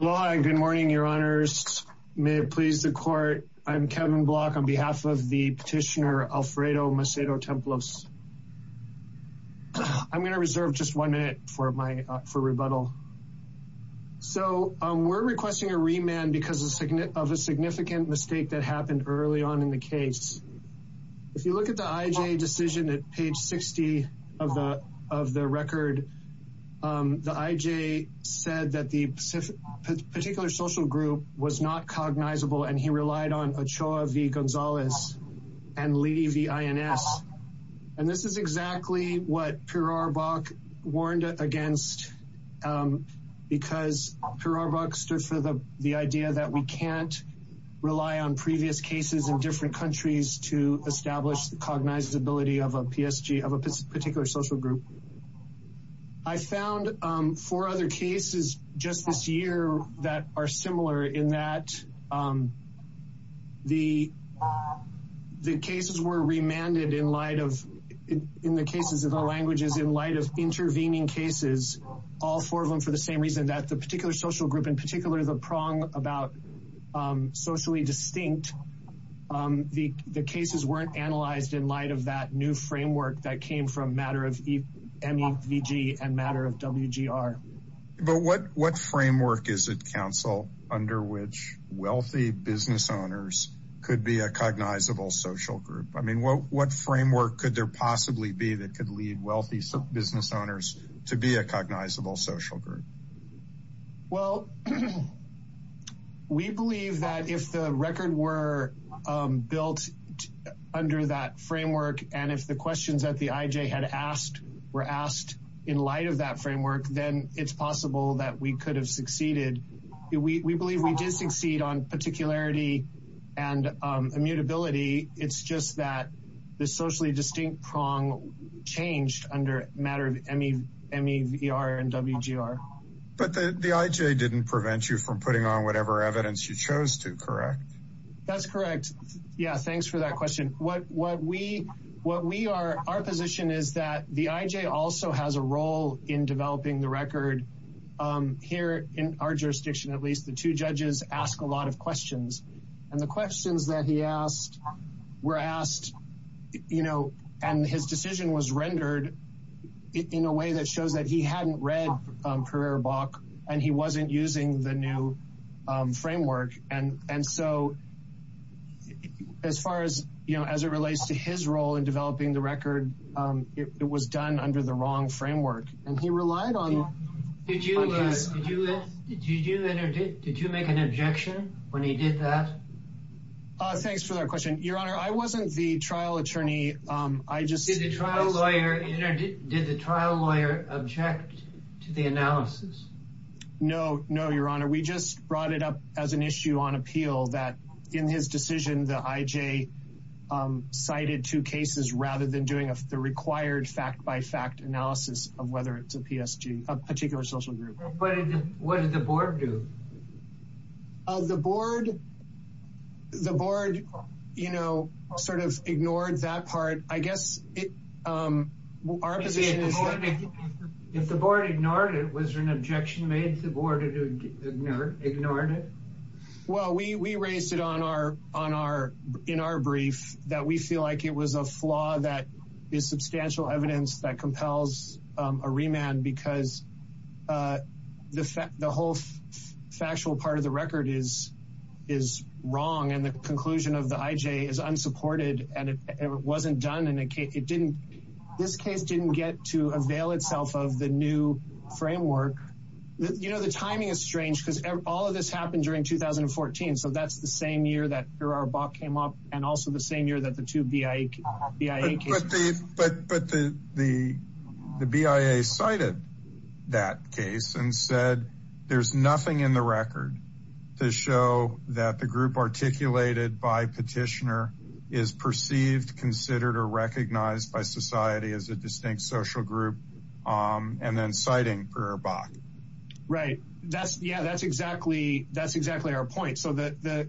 Aloha and good morning, your honors. May it please the court, I'm Kevin Block on behalf of the petitioner Alfredo Macedo Templos. I'm going to reserve just one minute for rebuttal. So we're requesting a remand because of a significant mistake that happened early on in the case. If you look at the IJ decision at page 60 of the record, the IJ said that the particular social group was not cognizable and he relied on Ochoa v. Gonzalez and Leidy v. INS. And this is exactly what Pirarbach warned against because Pirarbach stood for the idea that we can't rely on previous cases in different countries to establish the cognizability of a PSG, of a particular social group. I found four other cases just this year that are similar in that the cases were remanded in light of, in the cases of the languages, in light of intervening cases. All four of them for the same reason, that the particular social group, in particular the prong about socially distinct, the cases weren't analyzed in light of that new framework that came from Matter of M-E-V-G and Matter of W-G-R. But what framework is it, counsel, under which wealthy business owners could be a cognizable social group? I mean, what framework could there possibly be that could lead wealthy business owners to be a cognizable social group? Well, we believe that if the record were built under that framework and if the questions that the IJ had asked were asked in light of that framework, then it's possible that we could have succeeded. We believe we did succeed on particularity and immutability. It's just that the socially distinct prong changed under Matter of M-E-V-R and W-G-R. But the IJ didn't prevent you from putting on whatever evidence you chose to, correct? That's correct. Yeah, thanks for that question. Our position is that the IJ also has a role in developing the record. Here in our jurisdiction, at least, the two judges ask a lot of questions. And the questions that he asked were asked, you know, and his decision was rendered in a way that shows that he hadn't read Pereira-Bach and he wasn't using the new framework. And so, as far as, you know, as it relates to his role in developing the record, it was done under the wrong framework. And he relied on his... Did you make an objection when he did that? Thanks for that question. Your Honor, I wasn't the trial attorney. I just... Did the trial lawyer object to the analysis? No, no, Your Honor. We just brought it up as an issue on appeal that in his decision, the IJ cited two cases rather than doing the required fact-by-fact analysis of whether it's a PSG, a particular social group. What did the board do? The board, you know, sort of ignored that part. I guess our position is that... Well, we raised it in our brief that we feel like it was a flaw that is substantial evidence that compels a remand because the whole factual part of the record is wrong and the conclusion of the IJ is unsupported and it wasn't done. This case didn't get to avail itself of the new framework. You know, the timing is strange because all of this happened during 2014, so that's the same year that Gerard Bach came up and also the same year that the two BIA cases... But the BIA cited that case and said there's nothing in the record to show that the group articulated by Petitioner is perceived, considered, or recognized by society as a distinct social group and then citing Gerard Bach. Right. Yeah, that's exactly our point. So the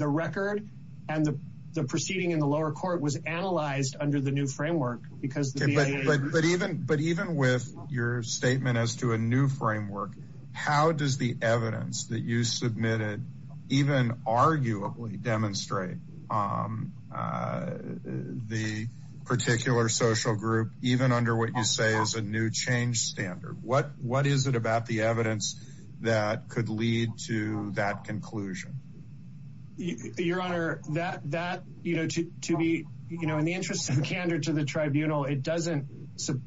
record and the proceeding in the lower court was analyzed under the new framework because the BIA... But even with your statement as to a new framework, how does the evidence that you submitted even arguably demonstrate the particular social group even under what you say is a new change standard? What is it about the evidence that could lead to that conclusion? Your Honor, that, you know, to be, you know, in the interest of candor to the tribunal, it doesn't...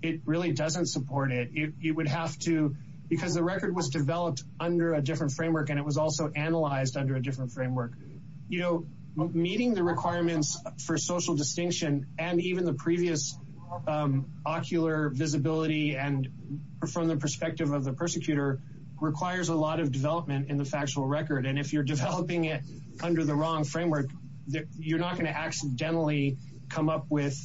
It really doesn't support it. It would have to... Because the record was developed under a different framework and it was also analyzed under a different framework. You know, meeting the requirements for social distinction and even the previous ocular visibility and from the perspective of the persecutor requires a lot of development in the factual record. And if you're developing it under the wrong framework, you're not going to accidentally come up with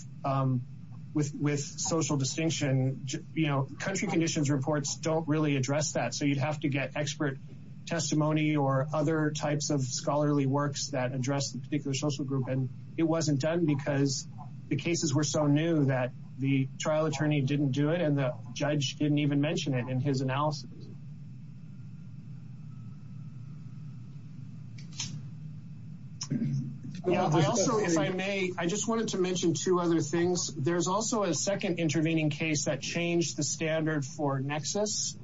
social distinction. You know, country conditions reports don't really address that, so you'd have to get expert testimony or other types of scholarly works that address the particular social group. And it wasn't done because the cases were so new that the trial attorney didn't do it and the judge didn't even mention it in his analysis. I also, if I may, I just wanted to mention two other things. There's also a second intervening case that changed the standard for nexus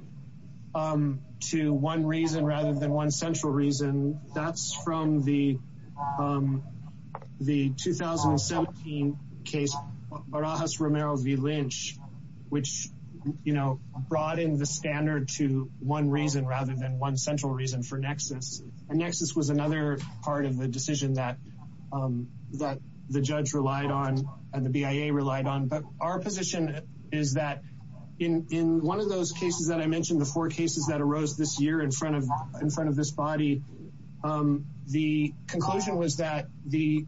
to one reason rather than one central reason. And that's from the 2017 case Barajas-Romero v. Lynch, which, you know, broadened the standard to one reason rather than one central reason for nexus. And nexus was another part of the decision that the judge relied on and the BIA relied on. But our position is that in one of those cases that I mentioned, the four cases that arose this year in front of this body, the conclusion was that the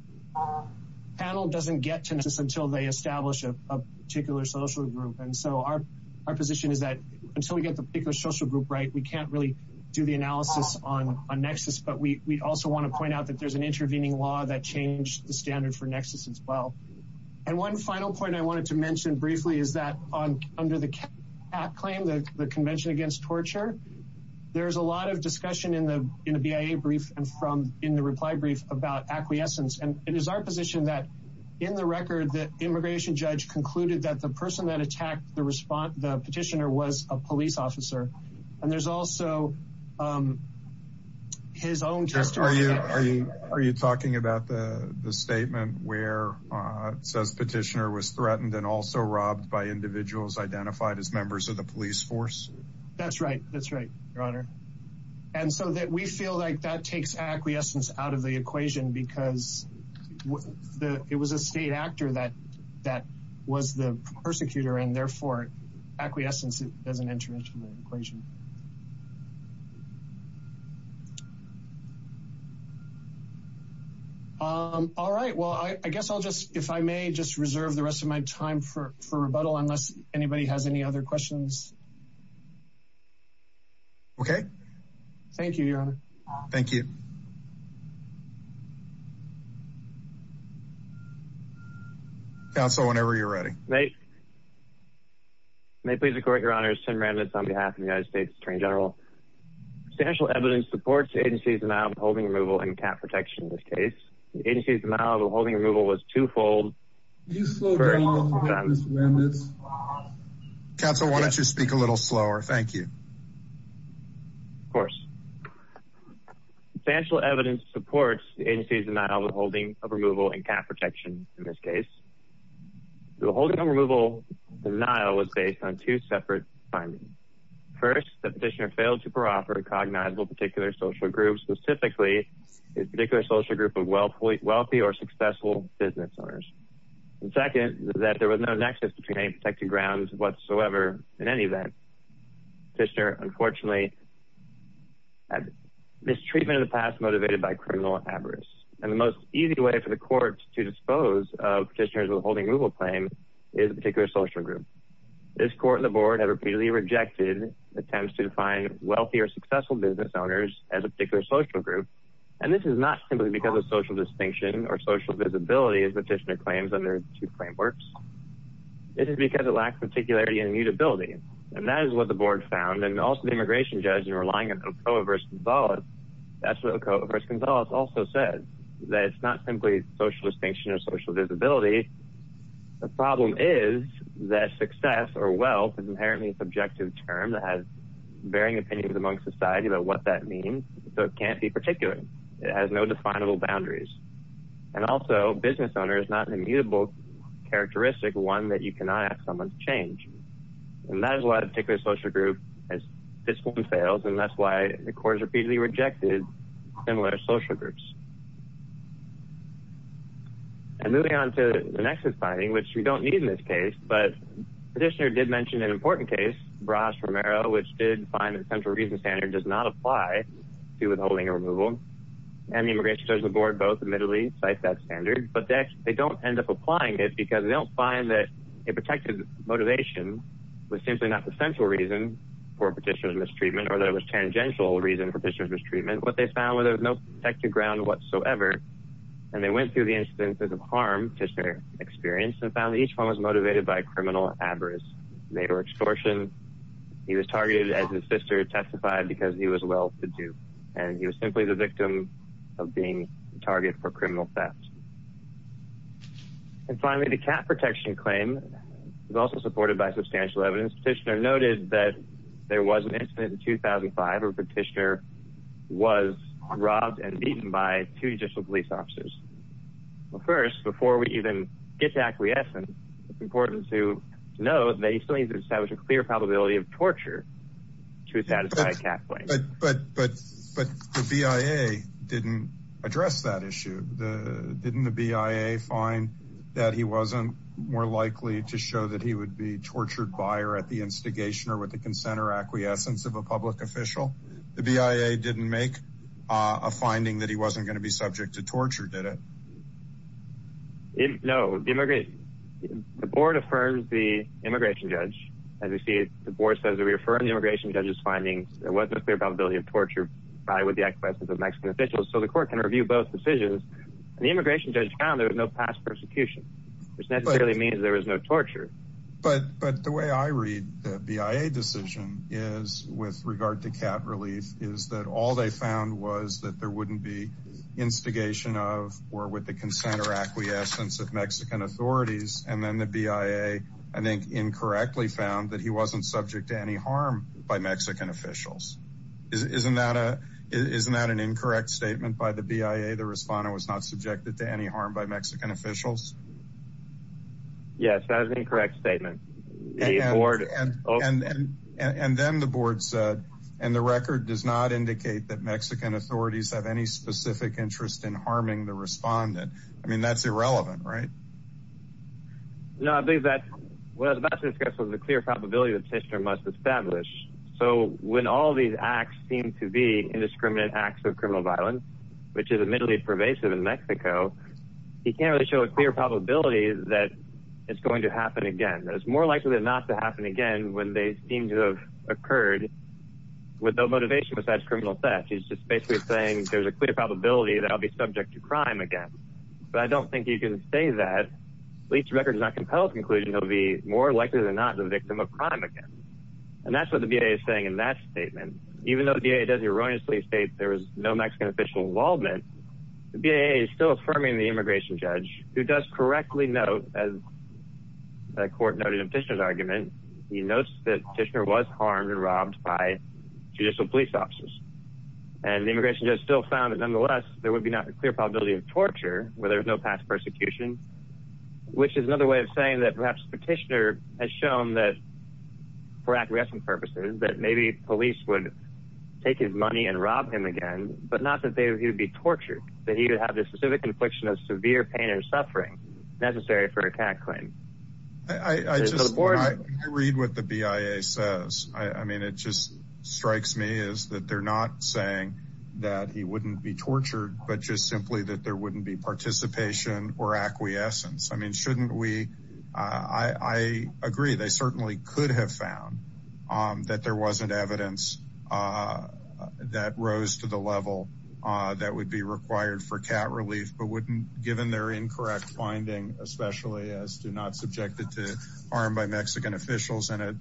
panel doesn't get to nexus until they establish a particular social group. And so our position is that until we get the particular social group right, we can't really do the analysis on nexus. But we also want to point out that there's an intervening law that changed the standard for nexus as well. And one final point I wanted to mention briefly is that under the CAT claim, the Convention Against Torture, there's a lot of discussion in the BIA brief and from in the reply brief about acquiescence. And it is our position that in the record, the immigration judge concluded that the person that attacked the petitioner was a police officer. And there's also his own testimony. Are you talking about the statement where it says petitioner was threatened and also robbed by individuals identified as members of the police force? That's right. That's right, Your Honor. And so that we feel like that takes acquiescence out of the equation because it was a state actor that was the persecutor and therefore acquiescence doesn't enter into the equation. All right. Well, I guess I'll just, if I may, just reserve the rest of my time for rebuttal unless anybody has any other questions. Thank you, Your Honor. Thank you. Counsel, whenever you're ready. May I please record, Your Honor, Tim Randitz on behalf of the United States Attorney General. Substantial evidence supports the agency's denial of holding removal and CAT protection in this case. The agency's denial of holding removal was twofold. Counsel, why don't you speak a little slower? Thank you. Of course. Substantial evidence supports the agency's denial of holding of removal and CAT protection in this case. The holding of removal denial was based on two separate findings. First, the petitioner failed to proffer a cognizable particular social group, specifically a particular social group of wealthy or successful business owners. And second, that there was no nexus between any protected grounds whatsoever in any event. The petitioner, unfortunately, had mistreatment in the past motivated by criminal avarice. And the most easy way for the court to dispose of petitioners with a holding removal claim is a particular social group. This court and the board have repeatedly rejected attempts to define wealthy or successful business owners as a particular social group. And this is not simply because of social distinction or social visibility, as the petitioner claims under two claim works. This is because it lacks particularity and mutability. And that is what the board found. And also the immigration judge, in relying on Coe v. Gonzalez, that's what Coe v. Gonzalez also said, that it's not simply social distinction or social visibility. The problem is that success or wealth is inherently a subjective term that has varying opinions among society about what that means. So it can't be particular. It has no definable boundaries. And also, business owner is not an immutable characteristic, one that you cannot ask someone to change. And that is why a particular social group, as this one fails, and that's why the court has repeatedly rejected similar social groups. And moving on to the next deciding, which we don't need in this case, but the petitioner did mention an important case, Bras-Romero, which did find that the central reason standard does not apply to withholding or removal. And the immigration judge and the board both admittedly cite that standard, but they don't end up applying it because they don't find that a protected motivation was simply not the central reason for a petitioner's mistreatment or that it was a tangential reason for a petitioner's mistreatment. What they found was there was no protected ground whatsoever. And they went through the instances of harm that the petitioner experienced and found that each one was motivated by a criminal adverse. Rape or extortion. He was targeted, as his sister testified, because he was well-to-do. And he was simply the victim of being the target for criminal theft. And finally, the cat protection claim is also supported by substantial evidence. Petitioner noted that there was an incident in 2005 where a petitioner was robbed and beaten by two judicial police officers. Well, first, before we even get to acquiescence, it's important to note that you still need to establish a clear probability of torture to satisfy a cat claim. But the BIA didn't address that issue. Didn't the BIA find that he wasn't more likely to show that he would be tortured by or at the instigation or with the consent or acquiescence of a public official? The BIA didn't make a finding that he wasn't going to be subject to torture, did it? No. The board affirms the immigration judge. As we see, the board says they refer to the immigration judge's findings. There wasn't a clear probability of torture by or with the acquiescence of Mexican officials. So the court can review both decisions. And the immigration judge found there was no past persecution, which necessarily means there was no torture. But the way I read the BIA decision is, with regard to cat relief, is that all they found was that there wouldn't be instigation of or with the consent or acquiescence of Mexican authorities. And then the BIA, I think, incorrectly found that he wasn't subject to any harm by Mexican officials. Isn't that an incorrect statement by the BIA, the respondent was not subjected to any harm by Mexican officials? Yes, that is an incorrect statement. And then the board said, and the record does not indicate that Mexican authorities have any specific interest in harming the respondent. I mean, that's irrelevant, right? No, I believe that what I was about to discuss was the clear probability that the petitioner must establish. So when all these acts seem to be indiscriminate acts of criminal violence, which is admittedly pervasive in Mexico, he can't really show a clear probability that it's going to happen again. It's more likely than not to happen again when they seem to have occurred with no motivation besides criminal theft. He's just basically saying there's a clear probability that I'll be subject to crime again. But I don't think you can say that. At least the record does not compel the conclusion that he'll be more likely than not the victim of crime again. And that's what the BIA is saying in that statement. Even though the BIA does erroneously state there was no Mexican official involvement, the BIA is still affirming the immigration judge, who does correctly note, as the court noted in the petitioner's argument, he notes that Petitioner was harmed and robbed by judicial police officers. And the immigration judge still found that, nonetheless, there would be not a clear probability of torture where there's no past persecution, which is another way of saying that perhaps Petitioner has shown that, for acquiescent purposes, that maybe police would take his money and rob him again, but not that he would be tortured, that he would have the specific infliction of severe pain and suffering necessary for a tax claim. I read what the BIA says. I mean, it just strikes me as that they're not saying that he wouldn't be tortured, but just simply that there wouldn't be participation or acquiescence. I mean, shouldn't we? I agree. They certainly could have found that there wasn't evidence that rose to the level that would be required for cat relief, but given their incorrect finding, especially as to not subjected to harm by Mexican officials, and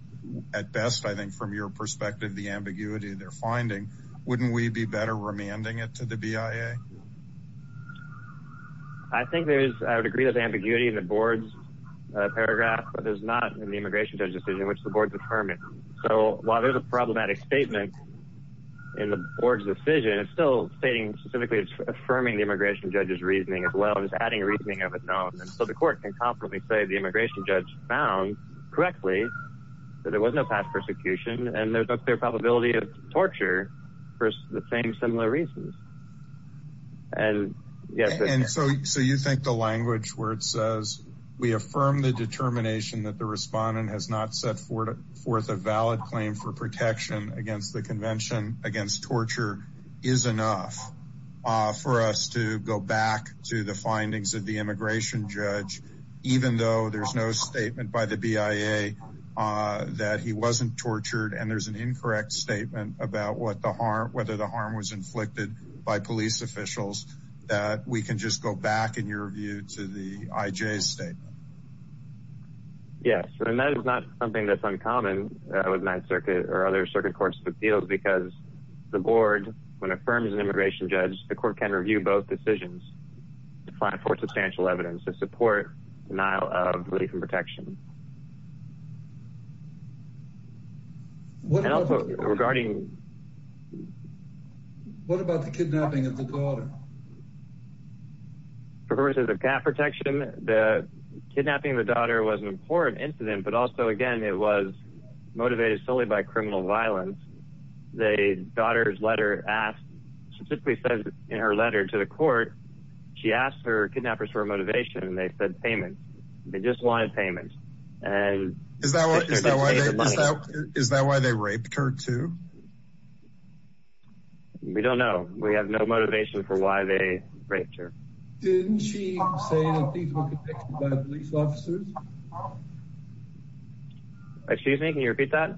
at best, I think, from your perspective, the ambiguity of their finding, wouldn't we be better remanding it to the BIA? I think there is a degree of ambiguity in the board's paragraph, but there's not in the immigration judge's decision, which the board's affirming. So while there's a problematic statement in the board's decision, it's still stating specifically, it's affirming the immigration judge's reasoning as well as adding reasoning of it known. And so the court can confidently say the immigration judge found correctly that there was no past persecution and there's no clear probability of torture for the same similar reasons. And so you think the language where it says, we affirm the determination that the respondent has not set forth a valid claim for protection against the convention against torture is enough for us to go back to the findings of the immigration judge, even though there's no statement by the BIA that he wasn't tortured and there's an incorrect statement about whether the harm was inflicted by police officials, that we can just go back, in your view, to the IJ's statement? Yes, and that is not something that's uncommon with Ninth Circuit or other circuit courts of appeals, because the board, when it affirms an immigration judge, the court can review both decisions to find for substantial evidence to support denial of relief and protection. What about the kidnapping of the daughter? References of cat protection, the kidnapping of the daughter was an important incident, but also again, it was motivated solely by criminal violence. The daughter's letter specifically says in her letter to the court, she asked her kidnappers for motivation and they said payment. They just wanted payment. Is that why they raped her too? We don't know. We have no motivation for why they raped her. Didn't she say that these were convicted by police officers? Excuse me, can you repeat that?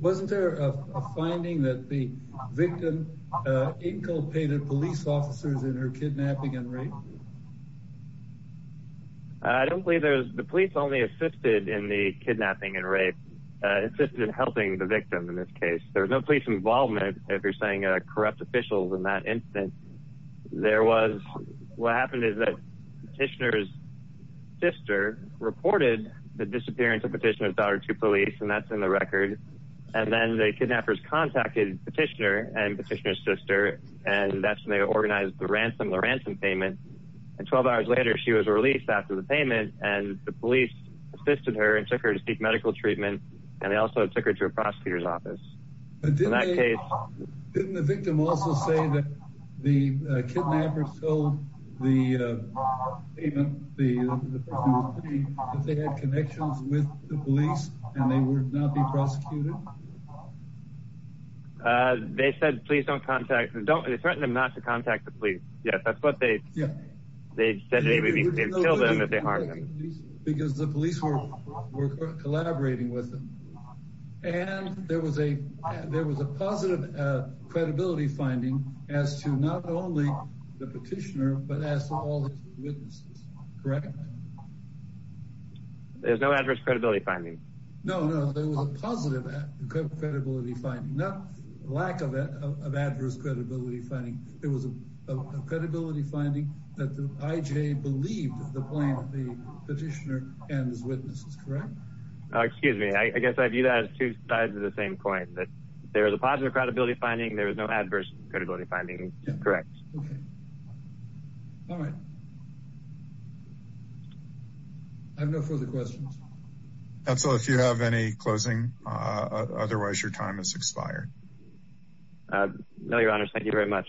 Wasn't there a finding that the victim inculpated police officers in her kidnapping and rape? I don't believe there was. The police only assisted in the kidnapping and rape, assisted in helping the victim in this case. There was no police involvement, if you're saying corrupt officials in that incident. What happened is that Petitioner's sister reported the disappearance of Petitioner's daughter to police, and that's in the record. And then the kidnappers contacted Petitioner and Petitioner's sister, and that's when they organized the ransom payment. And 12 hours later, she was released after the payment, and the police assisted her and took her to seek medical treatment, and they also took her to a prosecutor's office. Didn't the victim also say that the kidnappers told the police that they had connections with the police and they would not be prosecuted? They threatened them not to contact the police. Because the police were collaborating with them. And there was a positive credibility finding as to not only the Petitioner, but as to all his witnesses, correct? There's no adverse credibility finding. No, no, there was a positive credibility finding, not lack of adverse credibility finding. There was a credibility finding that the IJ believed the plaintiff, the Petitioner, and his witnesses, correct? Excuse me, I guess I view that as two sides of the same coin, that there was a positive credibility finding, there was no adverse credibility finding. Correct. Okay. All right. I have no further questions. Counsel, if you have any closing, otherwise your time has expired. No, Your Honor, thank you very much.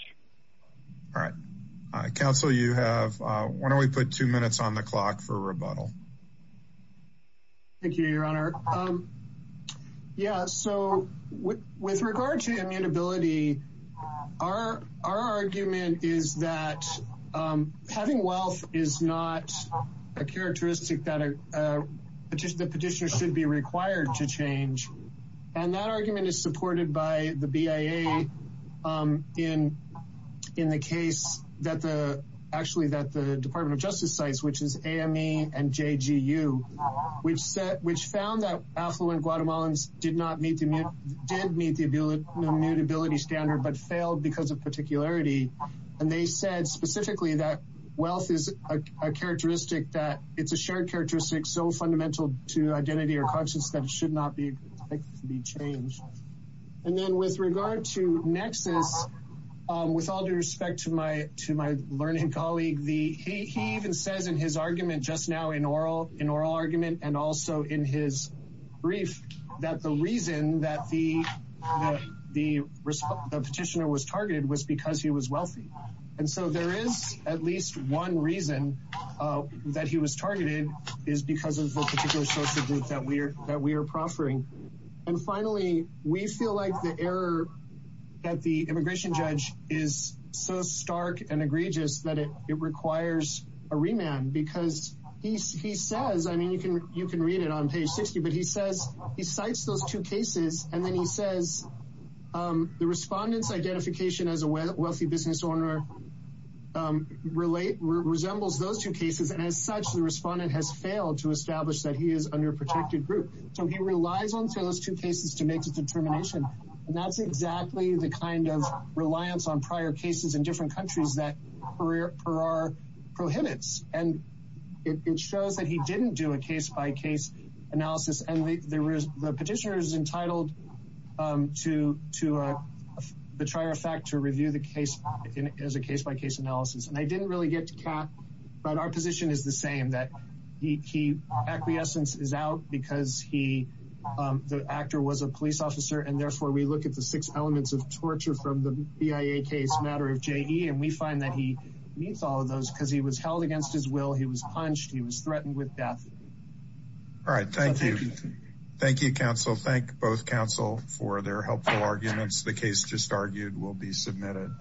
All right. Counsel, you have, why don't we put two minutes on the clock for rebuttal? Thank you, Your Honor. Yeah, so with regard to immutability, our argument is that having wealth is not a characteristic that the Petitioner should be required to change. And that argument is supported by the BIA in the case that the, actually that the Department of Justice sites, which is AME and JGU, which found that affluent Guatemalans did not meet, did meet the immutability standard, but failed because of particularity. And they said specifically that wealth is a characteristic, that it's a shared characteristic so fundamental to identity or conscience that it should not be changed. And then with regard to nexus, with all due respect to my learning colleague, he even says in his argument just now, in oral argument and also in his brief, that the reason that the Petitioner was targeted was because he was wealthy. And so there is at least one reason that he was targeted, is because of the particular social group that we are proffering. And finally, we feel like the error that the immigration judge is so stark and egregious that it requires a remand, because he says, I mean, you can read it on page 60, but he says, he cites those two cases, and then he says, the respondent's identification as a wealthy business owner resembles those two cases, and as such, the respondent has failed to establish that he is under a protected group. So he relies on those two cases to make a determination. And that's exactly the kind of reliance on prior cases in different countries that per our prohibits. And it shows that he didn't do a case-by-case analysis, and the Petitioner is entitled to the trier effect to review the case as a case-by-case analysis. And I didn't really get to Kat, but our position is the same, that the key acquiescence is out because the actor was a police officer, and therefore we look at the six elements of torture from the BIA case matter of JE, and we find that he meets all of those because he was held against his will, he was punched, he was threatened with death. All right. Thank you. Thank you, counsel. Thank both counsel for their helpful arguments. The case just argued will be submitted.